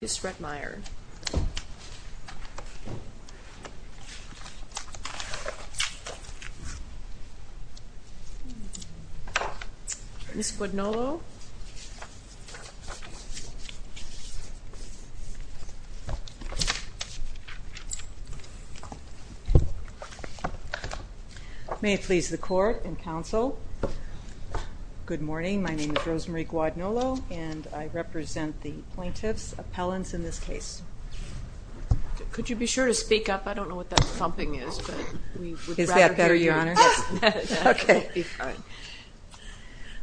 Ms. Rettmeyer. Ms. Guadnolo. May it please the court and council. Good morning, my name is Rosemary Guadnolo and I represent the plaintiff's appellants in this case. Could you be sure to speak up? I don't know what that thumping is, but we would rather hear you. Is that better, your honor? Okay, fine.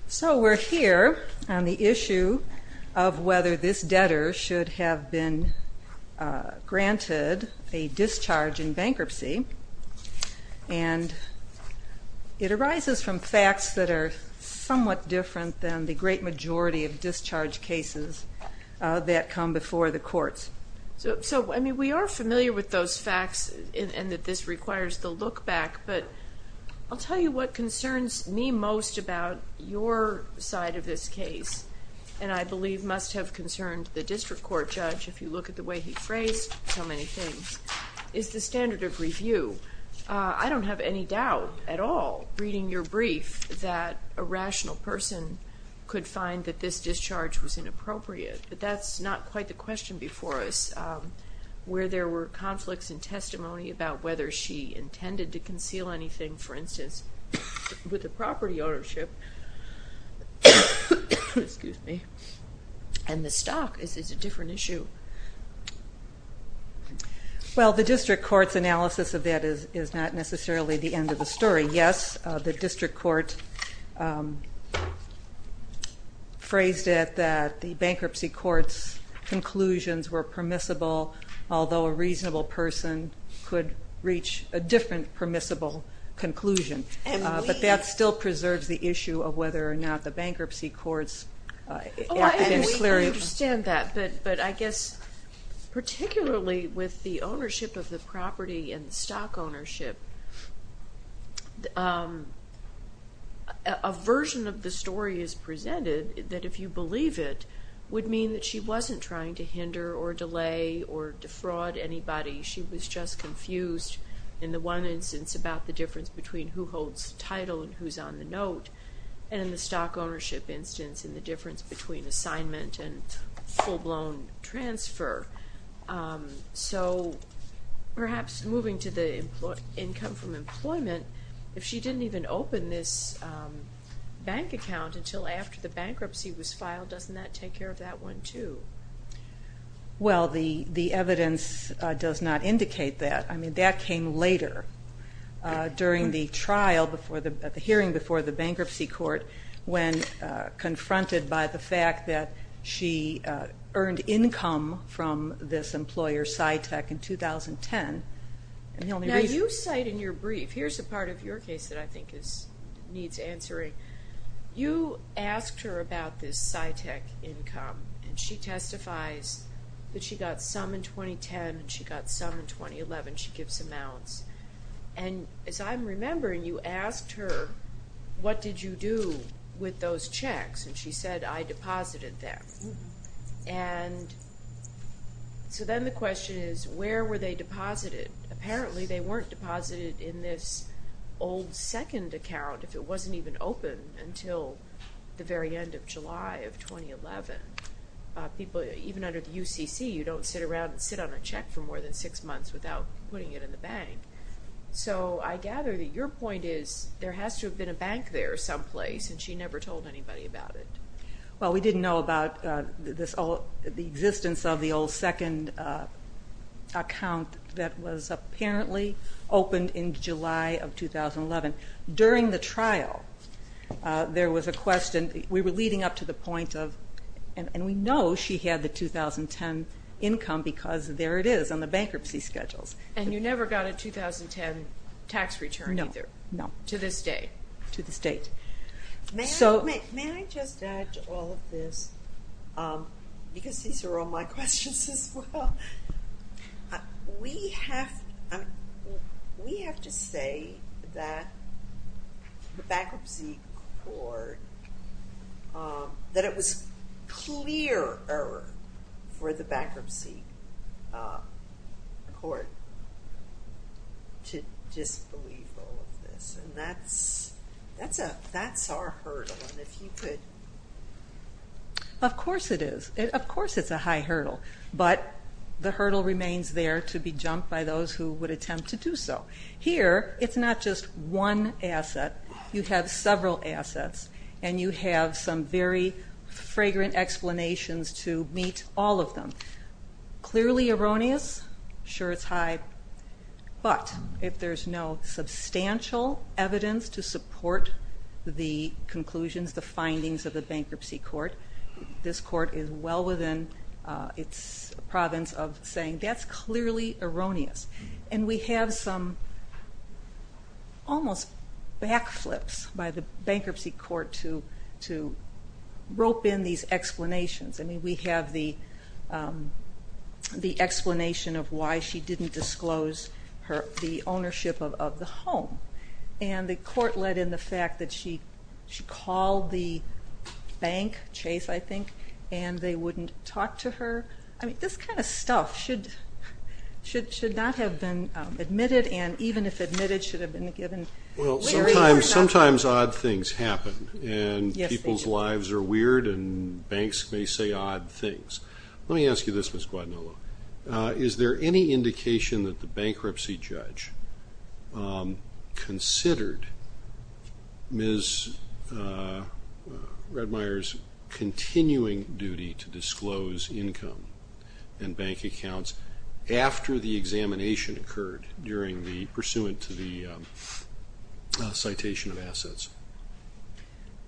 So we're here on the issue of whether this debtor should have been granted a discharge in bankruptcy and it arises from facts that are somewhat different than the great majority of discharge cases that come before the courts. So, I mean, we are familiar with those facts and that this requires the look back, but I'll tell you what concerns me most about your side of this case, and I believe must have concerned the district court judge, if you look at the way he phrased so many things, is the standard of review. I don't have any doubt at all reading your brief that a rational person could find that this discharge was inappropriate, but that's not quite the question before us. Where there were conflicts in testimony about whether she intended to conceal anything, for instance, with the property ownership, and the stock is a different issue. Well, the district court's analysis of that is not necessarily the end of the story. Yes, the district court phrased it that the bankruptcy court's conclusions were permissible, although a reasonable person could reach a different permissible conclusion. But that still preserves the issue of whether or not the bankruptcy court's... Oh, I understand that, but I guess particularly with the ownership of the property and stock ownership, a version of the story is presented that if you believe it would mean that she wasn't trying to hinder or delay or defraud anybody. She was just confused in the one instance about the difference between who holds the title and who's on the note, and in the stock ownership instance and the difference between assignment and full-blown transfer. So perhaps moving to the income from employment, if she didn't even open this bank account until after the bankruptcy was filed, doesn't that take care of that one, too? Well, the evidence does not indicate that. I mean, that came later during the hearing before the bankruptcy court when confronted by the fact that she earned income from this employer, Cytec, in 2010. Now, you cite in your brief, here's a part of your case that I think needs answering. You asked her about this Cytec income, and she testifies that she got some in 2010 and she got some in 2011. She gives amounts. And as I'm remembering, you asked her, what did you do with those checks? And she said, I deposited them. And so then the question is, where were they deposited? Apparently they weren't deposited in this old second account if it wasn't even open until the very end of July of 2011. People, even under the UCC, you don't sit around and sit on a check for more than six months without putting it in the bank. So I gather that your point is there has to have been a bank there someplace, and she never told anybody about it. Well, we didn't know about the existence of the old second account that was apparently opened in July of 2011. During the trial, there was a question, we were leading up to the point of, and we know she had the 2010 income because there it is on the bankruptcy schedules. And you never got a 2010 tax return either? No, no. To this day? To this date. May I just add to all of this, because these are all my questions as well. We have to say that the bankruptcy court, that it was clear error for the bankruptcy court to disbelieve all of this. And that's our hurdle, and if you could. Of course it is. Of course it's a high hurdle, but the hurdle remains there to be jumped by those who would attempt to do so. Here, it's not just one asset. You have several assets, and you have some very fragrant explanations to meet all of them. Clearly erroneous, sure it's high, but if there's no substantial evidence to support the conclusions, the findings of the bankruptcy court, this court is well within its province of saying that's clearly erroneous. And we have some almost backflips by the bankruptcy court to rope in these explanations. I mean, we have the explanation of why she didn't disclose the ownership of the home. And the court let in the fact that she called the bank, Chase, I think, and they wouldn't talk to her. I mean, this kind of stuff should not have been admitted, and even if admitted, should have been given. Well, sometimes odd things happen, and people's lives are weird, and banks may say odd things. Let me ask you this, Ms. Guadagnolo. Is there any indication that the bankruptcy judge considered Ms. Redmire's continuing duty to disclose income and bank accounts after the examination occurred during the, pursuant to the citation of assets?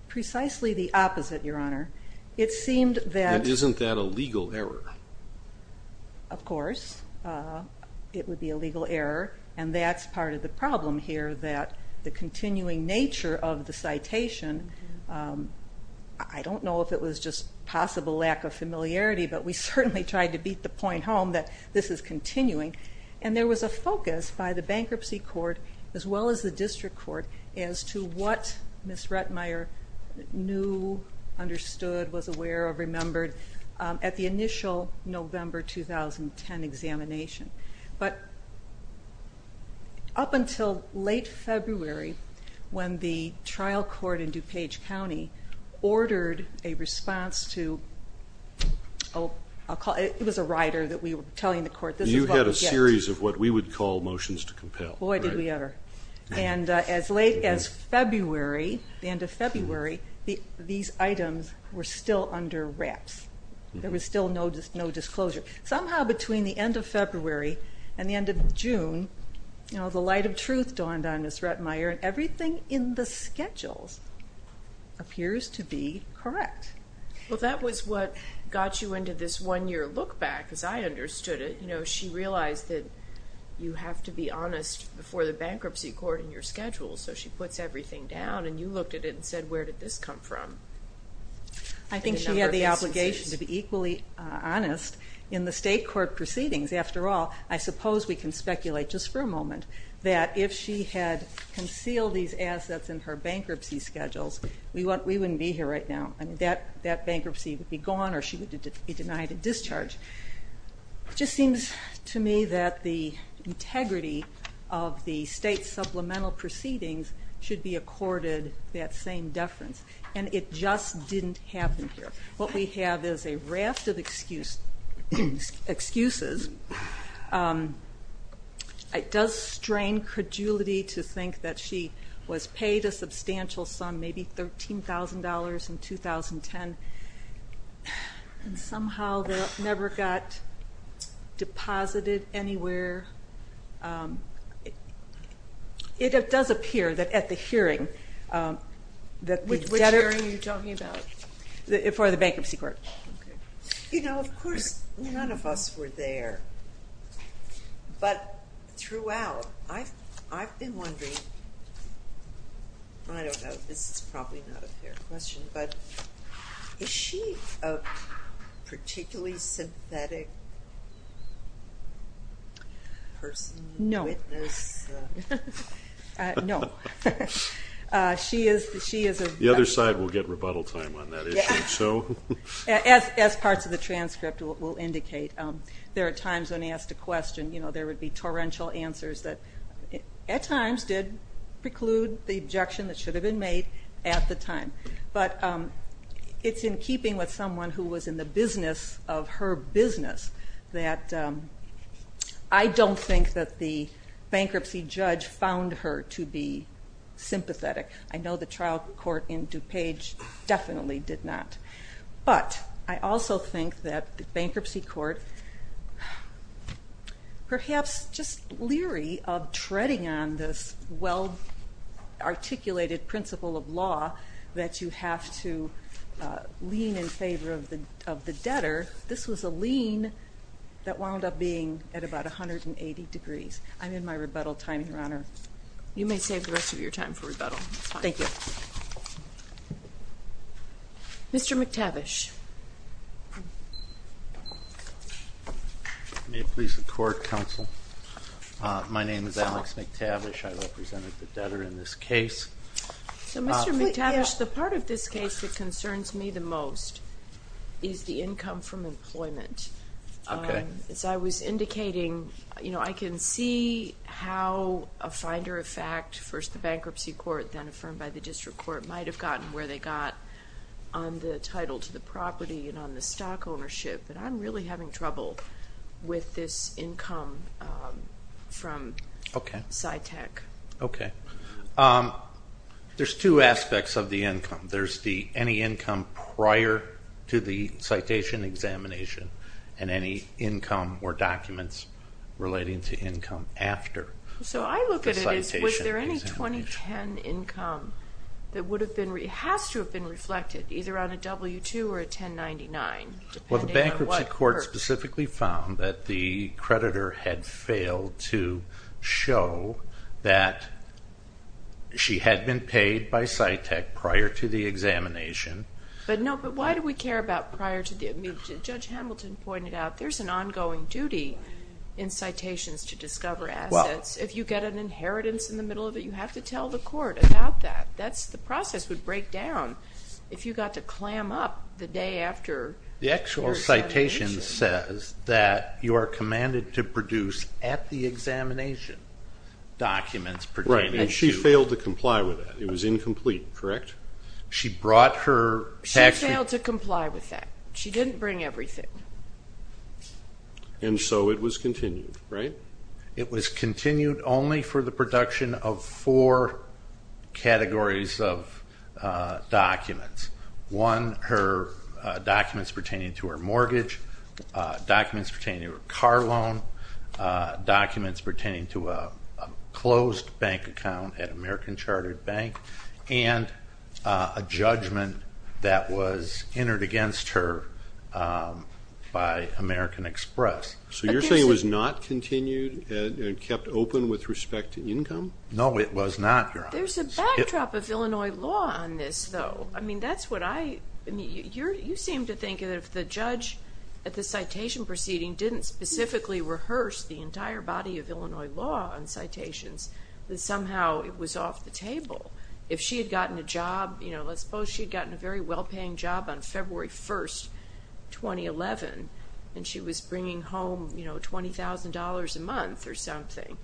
Precisely the opposite, Your Honor. It seemed that- And isn't that a legal error? Of course, it would be a legal error, and that's part of the problem here, that the continuing nature of the citation, I don't know if it was just possible lack of familiarity, but we certainly tried to beat the point home that this is continuing. And there was a focus by the bankruptcy court, as well as the district court, as to what Ms. Redmire knew, understood, was aware of, remembered, at the initial November 2010 examination. But up until late February, when the trial court in DuPage County ordered a response to, oh, it was a rider that we were telling the court, this is what we get. You had a series of what we would call motions to compel. Boy, did we ever. And as late as February, the end of February, these items were still under wraps. There was still no disclosure. Somehow between the end of February and the end of June, the light of truth dawned on Ms. Redmire, and everything in the schedules appears to be correct. Well, that was what got you into this one-year look back, as I understood it. She realized that you have to be honest before the bankruptcy court in your schedule, so she puts everything down, and you looked at it and said, where did this come from? I think she had the obligation to be equally honest. In the state court proceedings, after all, I suppose we can speculate, just for a moment, that if she had concealed these assets in her bankruptcy schedules, we wouldn't be here right now. I mean, that bankruptcy would be gone, or she would be denied a discharge. It just seems to me that the integrity of the state supplemental proceedings should be accorded that same deference, and it just didn't happen here. What we have is a raft of excuses. It does strain credulity to think that she was paid a substantial sum, maybe $13,000 in 2010, and somehow never got deposited anywhere. It does appear that at the hearing, that the debtor- Which hearing are you talking about? For the bankruptcy court. You know, of course, none of us were there, but throughout, I've been wondering, I don't know, this is probably not a fair question, but is she a particularly synthetic person? No. No. She is a- The other side will get rebuttal time on that issue, so. As parts of the transcript will indicate, there are times when asked a question, you know, there would be torrential answers that at times did preclude the objection that should have been made at the time, but it's in keeping with someone who was in the business of her business that I don't think that the bankruptcy judge found her to be sympathetic. I know the trial court in DuPage definitely did not, but I also think that the bankruptcy court, perhaps just leery of treading on this well-articulated principle of law that you have to lean in favor of the debtor, this was a lean that wound up being at about 180 degrees. I'm in my rebuttal time, Your Honor. You may save the rest of your time for rebuttal. Thank you. Mr. McTavish. May it please the court, counsel. My name is Alex McTavish. I represented the debtor in this case. So Mr. McTavish, the part of this case that concerns me the most is the income from employment. Okay. As I was indicating, you know, I can see how a finder of fact, first the bankruptcy court, then affirmed by the district court might have gotten where they got on the title to the property and on the stock ownership, but I'm really having trouble with this income from SciTech. Okay. There's two aspects of the income. There's the any income prior to the citation examination and any income or documents relating to income after. So I look at it as, was there any 2010 income that would have been, it has to have been reflected either on a W-2 or a 1099, depending on what. Well, the bankruptcy court specifically found that the creditor had failed to show that she had been paid by SciTech prior to the examination. But no, but why do we care about prior to the, Judge Hamilton pointed out, there's an ongoing duty in citations to discover assets. If you get an inheritance in the middle of it, you have to tell the court about that. That's the process would break down if you got to clam up the day after. The actual citation says that you are commanded to produce at the examination documents pertaining to. Right, and she failed to comply with that. It was incomplete, correct? She brought her tax- She failed to comply with that. She didn't bring everything. And so it was continued, right? It was continued only for the production of four categories of documents. One, her documents pertaining to her mortgage, documents pertaining to her car loan, documents pertaining to a closed bank account at American Chartered Bank, and a judgment that was entered against her by American Express. So you're saying it was not continued and kept open with respect to income? No, it was not, Your Honor. There's a backdrop of Illinois law on this, though. I mean, that's what I, I mean, you seem to think that if the judge the entire body of Illinois law on citations, that somehow it was off the table. If she had gotten a job, let's suppose she'd gotten a very well-paying job on February 1st, 2011, and she was bringing home $20,000 a month or something.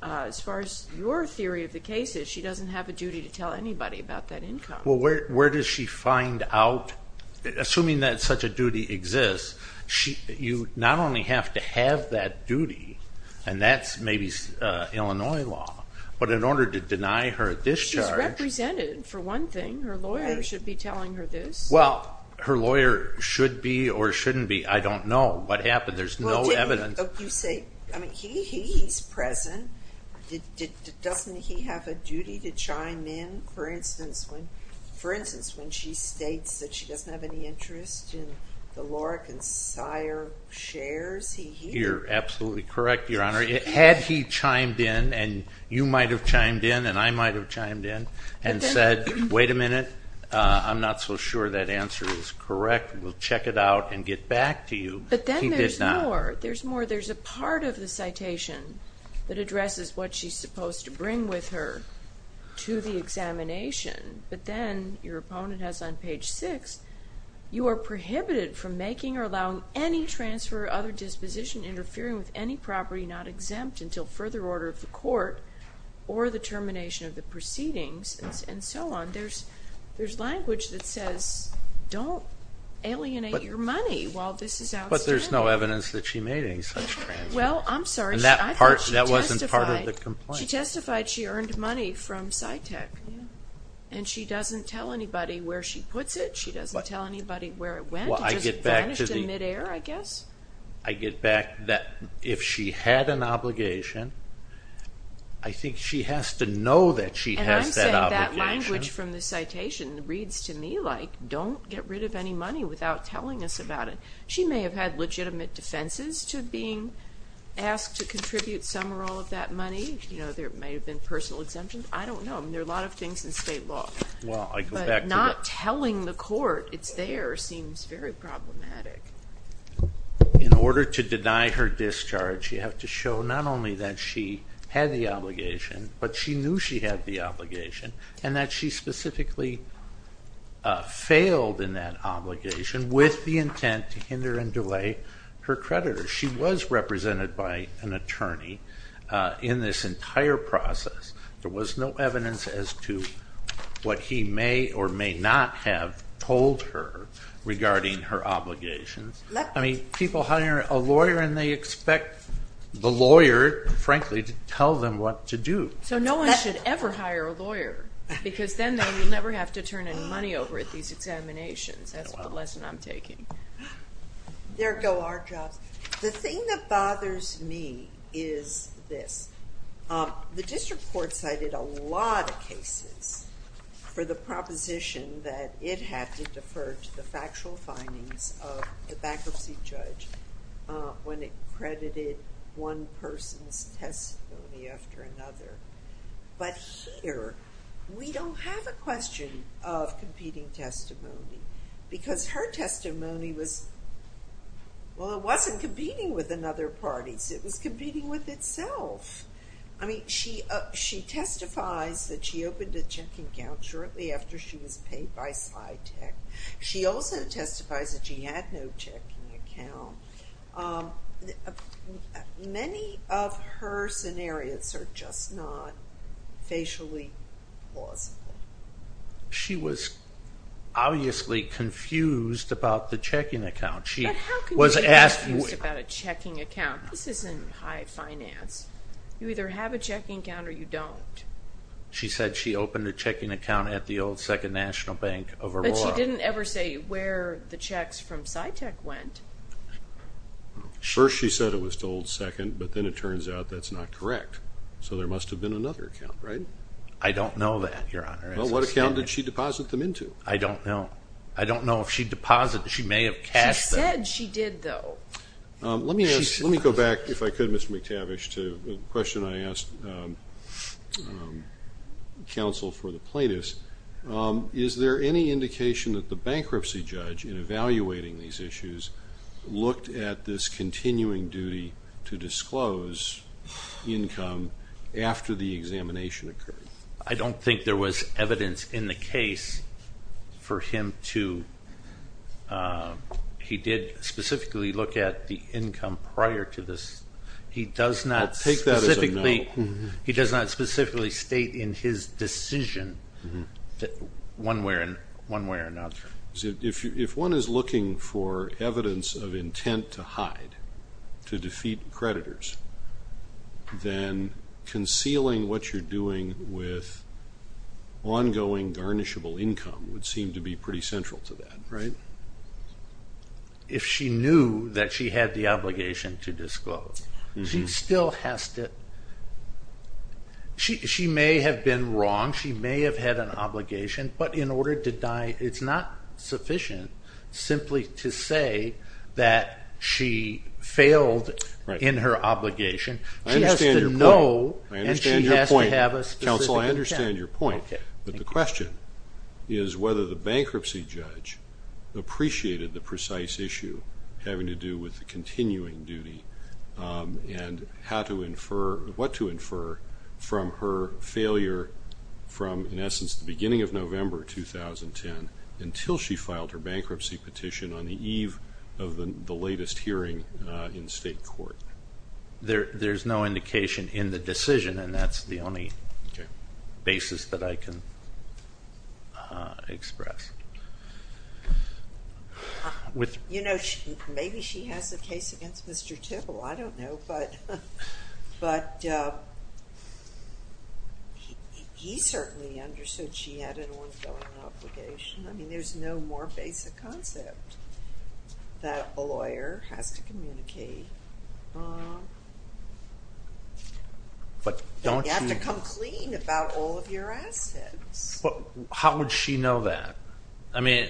As far as your theory of the case is, she doesn't have a duty to tell anybody about that income. Well, where does she find out? Assuming that such a duty exists, you not only have to have that duty, and that's maybe Illinois law, but in order to deny her a discharge. She's represented, for one thing. Her lawyer should be telling her this. Well, her lawyer should be or shouldn't be, I don't know what happened. There's no evidence. You say, I mean, he's present. Doesn't he have a duty to chime in? For instance, when she states that she doesn't have any interest in the Lorack and Sire shares, he hears. You're absolutely correct, Your Honor. Had he chimed in, and you might have chimed in, and I might have chimed in, and said, wait a minute, I'm not so sure that answer is correct. We'll check it out and get back to you. He did not. But then there's more. There's more. There's a part of the citation that addresses what she's supposed to bring with her to the examination, but then your opponent has on page six, you are prohibited from making or allowing any transfer or other disposition interfering with any property not exempt until further order of the court or the termination of the proceedings, and so on. There's language that says, don't alienate your money while this is outstanding. But there's no evidence that she made any such transfers. Well, I'm sorry, I thought she testified. That wasn't part of the complaint. She testified she earned money from Scitech, and she doesn't tell anybody where she puts it. She doesn't tell anybody where it went. It just vanished in midair, I guess. I get back that if she had an obligation, I think she has to know that she has that obligation. And I'm saying that language from the citation reads to me like, don't get rid of any money without telling us about it. She may have had legitimate defenses to being asked to contribute some or all of that money. There may have been personal exemptions. I don't know. There are a lot of things in state law. Well, I go back to the- That's very problematic. In order to deny her discharge, you have to show not only that she had the obligation, but she knew she had the obligation, and that she specifically failed in that obligation with the intent to hinder and delay her creditor. She was represented by an attorney in this entire process. There was no evidence as to what he may or may not have told her regarding her obligations. I mean, people hire a lawyer, and they expect the lawyer, frankly, to tell them what to do. So no one should ever hire a lawyer, because then they will never have to turn any money over at these examinations. That's the lesson I'm taking. There go our jobs. The thing that bothers me is this. The district court cited a lot of cases for the proposition that it had to defer to the factual findings of the bankruptcy judge when it credited one person's testimony after another. But here, we don't have a question of competing testimony, because her testimony was, well, it wasn't competing with another party's. It was competing with itself. I mean, she testifies that she opened a checking account shortly after she was paid by SciTech. She also testifies that she had no checking account. Many of her scenarios are just not facially plausible. She was obviously confused about the checking account. She was asked- But how can you be confused about a checking account? This isn't high finance. You either have a checking account or you don't. She said she opened a checking account at the old Second National Bank of Aurora. But she didn't ever say where the checks from SciTech went. First, she said it was to Old Second, but then it turns out that's not correct. So there must have been another account, right? I don't know that, Your Honor. Well, what account did she deposit them into? I don't know. I don't know if she deposited, she may have cashed them. She said she did, though. Let me go back, if I could, Mr. McTavish, to a question I asked counsel for the plaintiffs. Is there any indication that the bankruptcy judge, in evaluating these issues, looked at this continuing duty to disclose income after the examination occurred? I don't think there was evidence in the case for him to... He did specifically look at the income prior to this. He does not specifically state in his decision that one way or another. If one is looking for evidence of intent to hide, to defeat creditors, then concealing what you're doing with ongoing garnishable income would seem to be pretty central to that, right? If she knew that she had the obligation to disclose, she still has to... She may have been wrong, she may have had an obligation, but in order to die, it's not sufficient simply to say that she failed in her obligation. She has to know, and she has to have a specific intent. Counsel, I understand your point, but the question is whether the bankruptcy judge, appreciated the precise issue having to do with the continuing duty and what to infer from her failure from, in essence, the beginning of November, 2010, until she filed her bankruptcy petition on the eve of the latest hearing in state court. There's no indication in the decision, and that's the only basis that I can express. You know, maybe she has a case against Mr. Tibble, I don't know, but he certainly understood she had an ongoing obligation. I mean, there's no more basic concept that a lawyer has to communicate. But don't you... You have to come clean about all of your assets. How would she know that? I mean,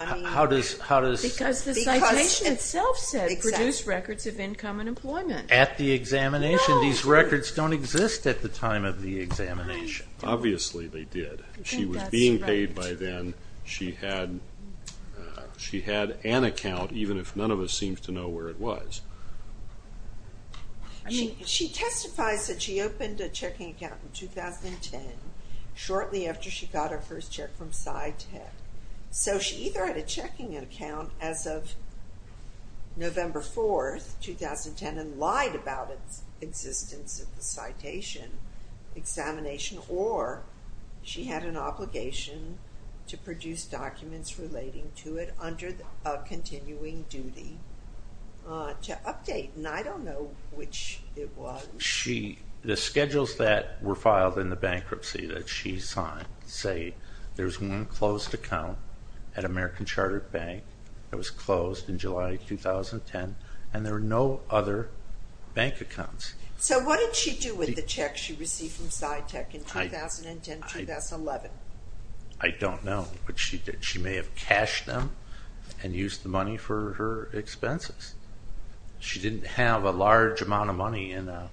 how does... Because the citation itself says produce records of income and employment. At the examination, these records don't exist at the time of the examination. Obviously they did. She was being paid by then. She had an account, even if none of us seems to know where it was. She testifies that she opened a checking account in 2010, shortly after she got her first check from SciTech. So she either had a checking account as of November 4th, 2010, and lied about its existence at the citation examination, or she had an obligation to produce documents relating to it under a continuing duty to update. And I don't know which it was. The schedules that were filed in the bankruptcy that she signed say there's one closed account at American Chartered Bank that was closed in July 2010, and there were no other bank accounts. So what did she do with the checks she received from SciTech in 2010, 2011? I don't know, but she may have cashed them and used the money for her expenses. She didn't have a large amount of money in a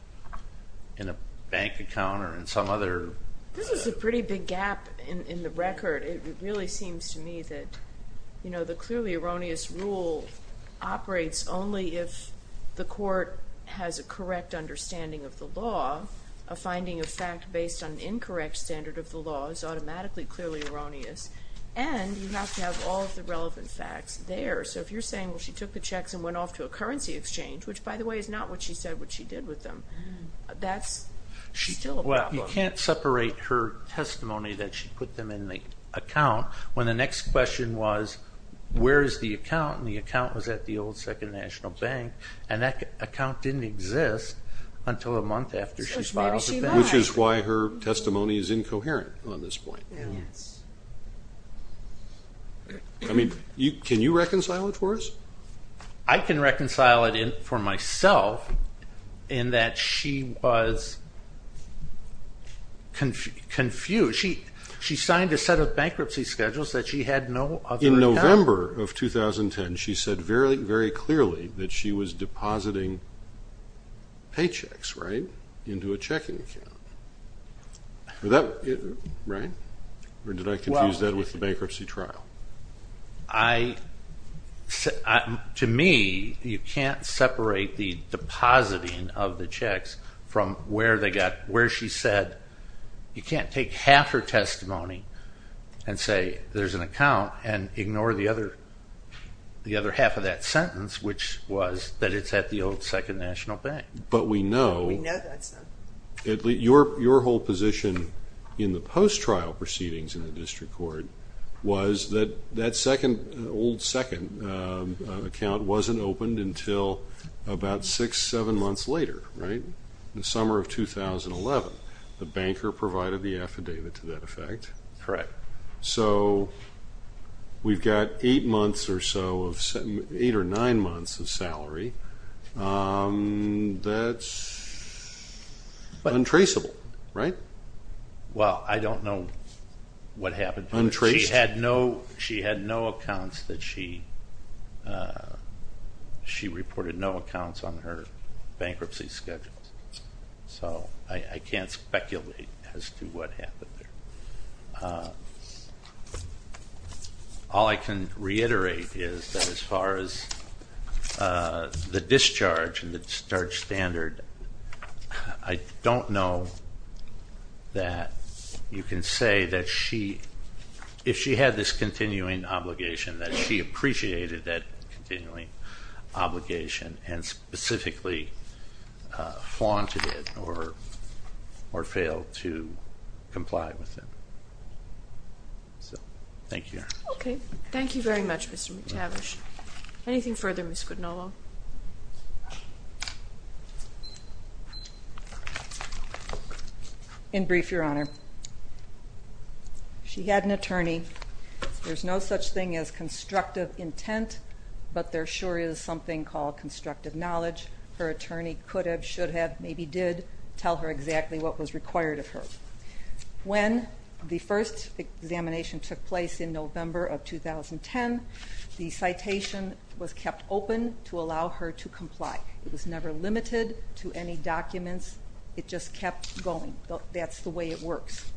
bank account or in some other... This is a pretty big gap in the record. It really seems to me that the clearly erroneous rule operates only if the court has a correct understanding of the law, a finding of fact based on an incorrect standard of the law is automatically clearly erroneous, and you have to have all of the relevant facts there. So if you're saying, well, she took the checks and went off to a currency exchange, which by the way is not what she said or what she did with them, that's still a problem. Well, you can't separate her testimony that she put them in the account when the next question was, where's the account? And the account was at the old Second National Bank, and that account didn't exist until a month after she filed the bank. Which is why her testimony is incoherent on this point. I mean, can you reconcile it for us? I can reconcile it for myself in that she was confused. She signed a set of bankruptcy schedules that she had no other account. In November of 2010, she said very, very clearly that she was depositing paychecks, right, into a checking account, right? Or did I confuse that with the bankruptcy trial? To me, you can't separate the depositing of the checks from where they got, where she said, you can't take half her testimony and say there's an account and ignore the other half of that sentence, which was that it's at the old Second National Bank. But we know your whole position in the post-trial proceedings in the district court was that that second, old second account wasn't opened until about six, seven months later, right? The summer of 2011. The banker provided the affidavit to that effect. Correct. So we've got eight months or so of, eight or nine months of salary. That's untraceable, right? Well, I don't know what happened to her. She had no, she had no accounts that she, she reported no accounts on her bankruptcy schedule. So I can't speculate as to what happened there. All I can reiterate is that as far as the discharge and the discharge standard, I don't know that you can say that she, if she had this continuing obligation, that she appreciated that continuing obligation and specifically flaunted it or failed to comply with it. So, thank you. Okay. Thank you very much, Mr. McTavish. In brief, Your Honor. She had an attorney. There's no such thing as constructive intent, but there sure is something called constructive knowledge. Her attorney could have, should have, maybe did tell her exactly what was required of her. When the first examination took place in November of 2010, the citation was kept open to allow her to comply. It was never limited to any documents. It just kept going. That's the way it works.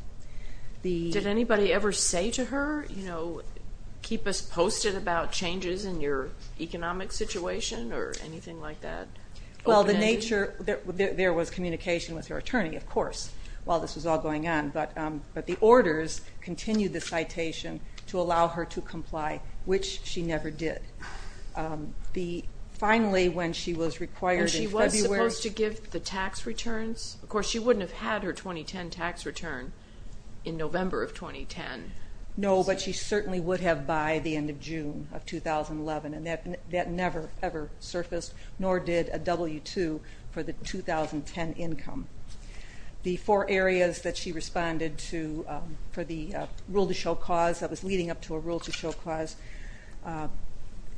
The- Did anybody ever say to her, you know, keep us posted about changes in your economic situation or anything like that? Well, the nature, there was communication with her attorney, of course, while this was all going on, but the orders continued the citation to allow her to comply, which she never did. The, finally, when she was required in February- And she was supposed to give the tax returns. Of course, she wouldn't have had her 2010 tax return in November of 2010. No, but she certainly would have by the end of June of 2011, and that never, ever surfaced, nor did a W-2 for the 2010 income. The four areas that she responded to for the rule-to-show cause that was leading up to a rule-to-show cause,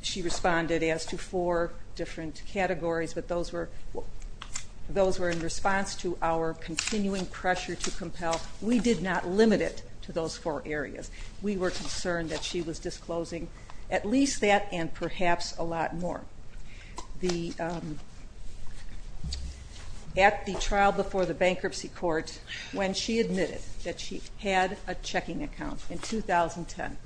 she responded as to four different categories, but those were in response to our continuing pressure to compel. We did not limit it to those four areas. We were concerned that she was disclosing at least that and perhaps a lot more. At the trial before the bankruptcy court, when she admitted that she had a checking account in 2010,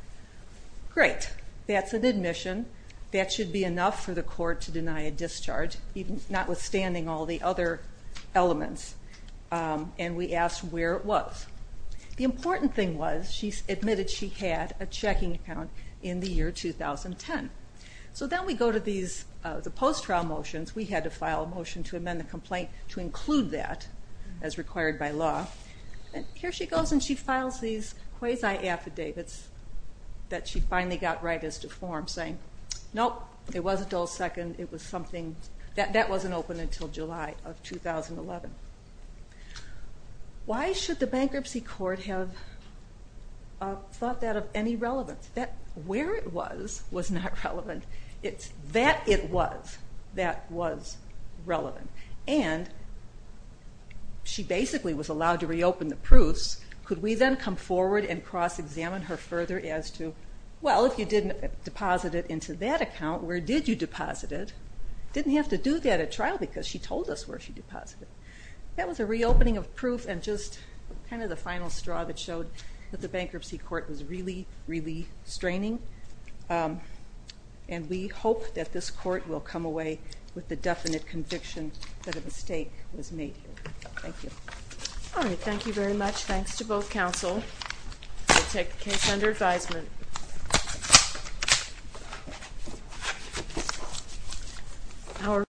great, that's an admission. That should be enough for the court to deny a discharge, notwithstanding all the other elements. And we asked where it was. The important thing was she admitted she had a checking account in the year 2010. So then we go to the post-trial motions. We had to file a motion to amend the complaint to include that as required by law. And here she goes and she files these quasi-affidavits that she finally got right as to form, saying, nope, it wasn't dull second. It was something, that wasn't open until July of 2011. Why should the bankruptcy court have thought that of any relevance? That where it was was not relevant. It's that it was that was relevant. And she basically was allowed to reopen the proofs. Could we then come forward and cross-examine her further as to, well, if you didn't deposit it into that account, where did you deposit it? Didn't have to do that at trial because she told us where she deposited. That was a reopening of proof and just kind of the final straw that showed that the bankruptcy court was really, really straining. And we hope that this court will come away with the definite conviction that a mistake was made. Thank you. All right, thank you very much. Thanks to both counsel. I take the case under advisement.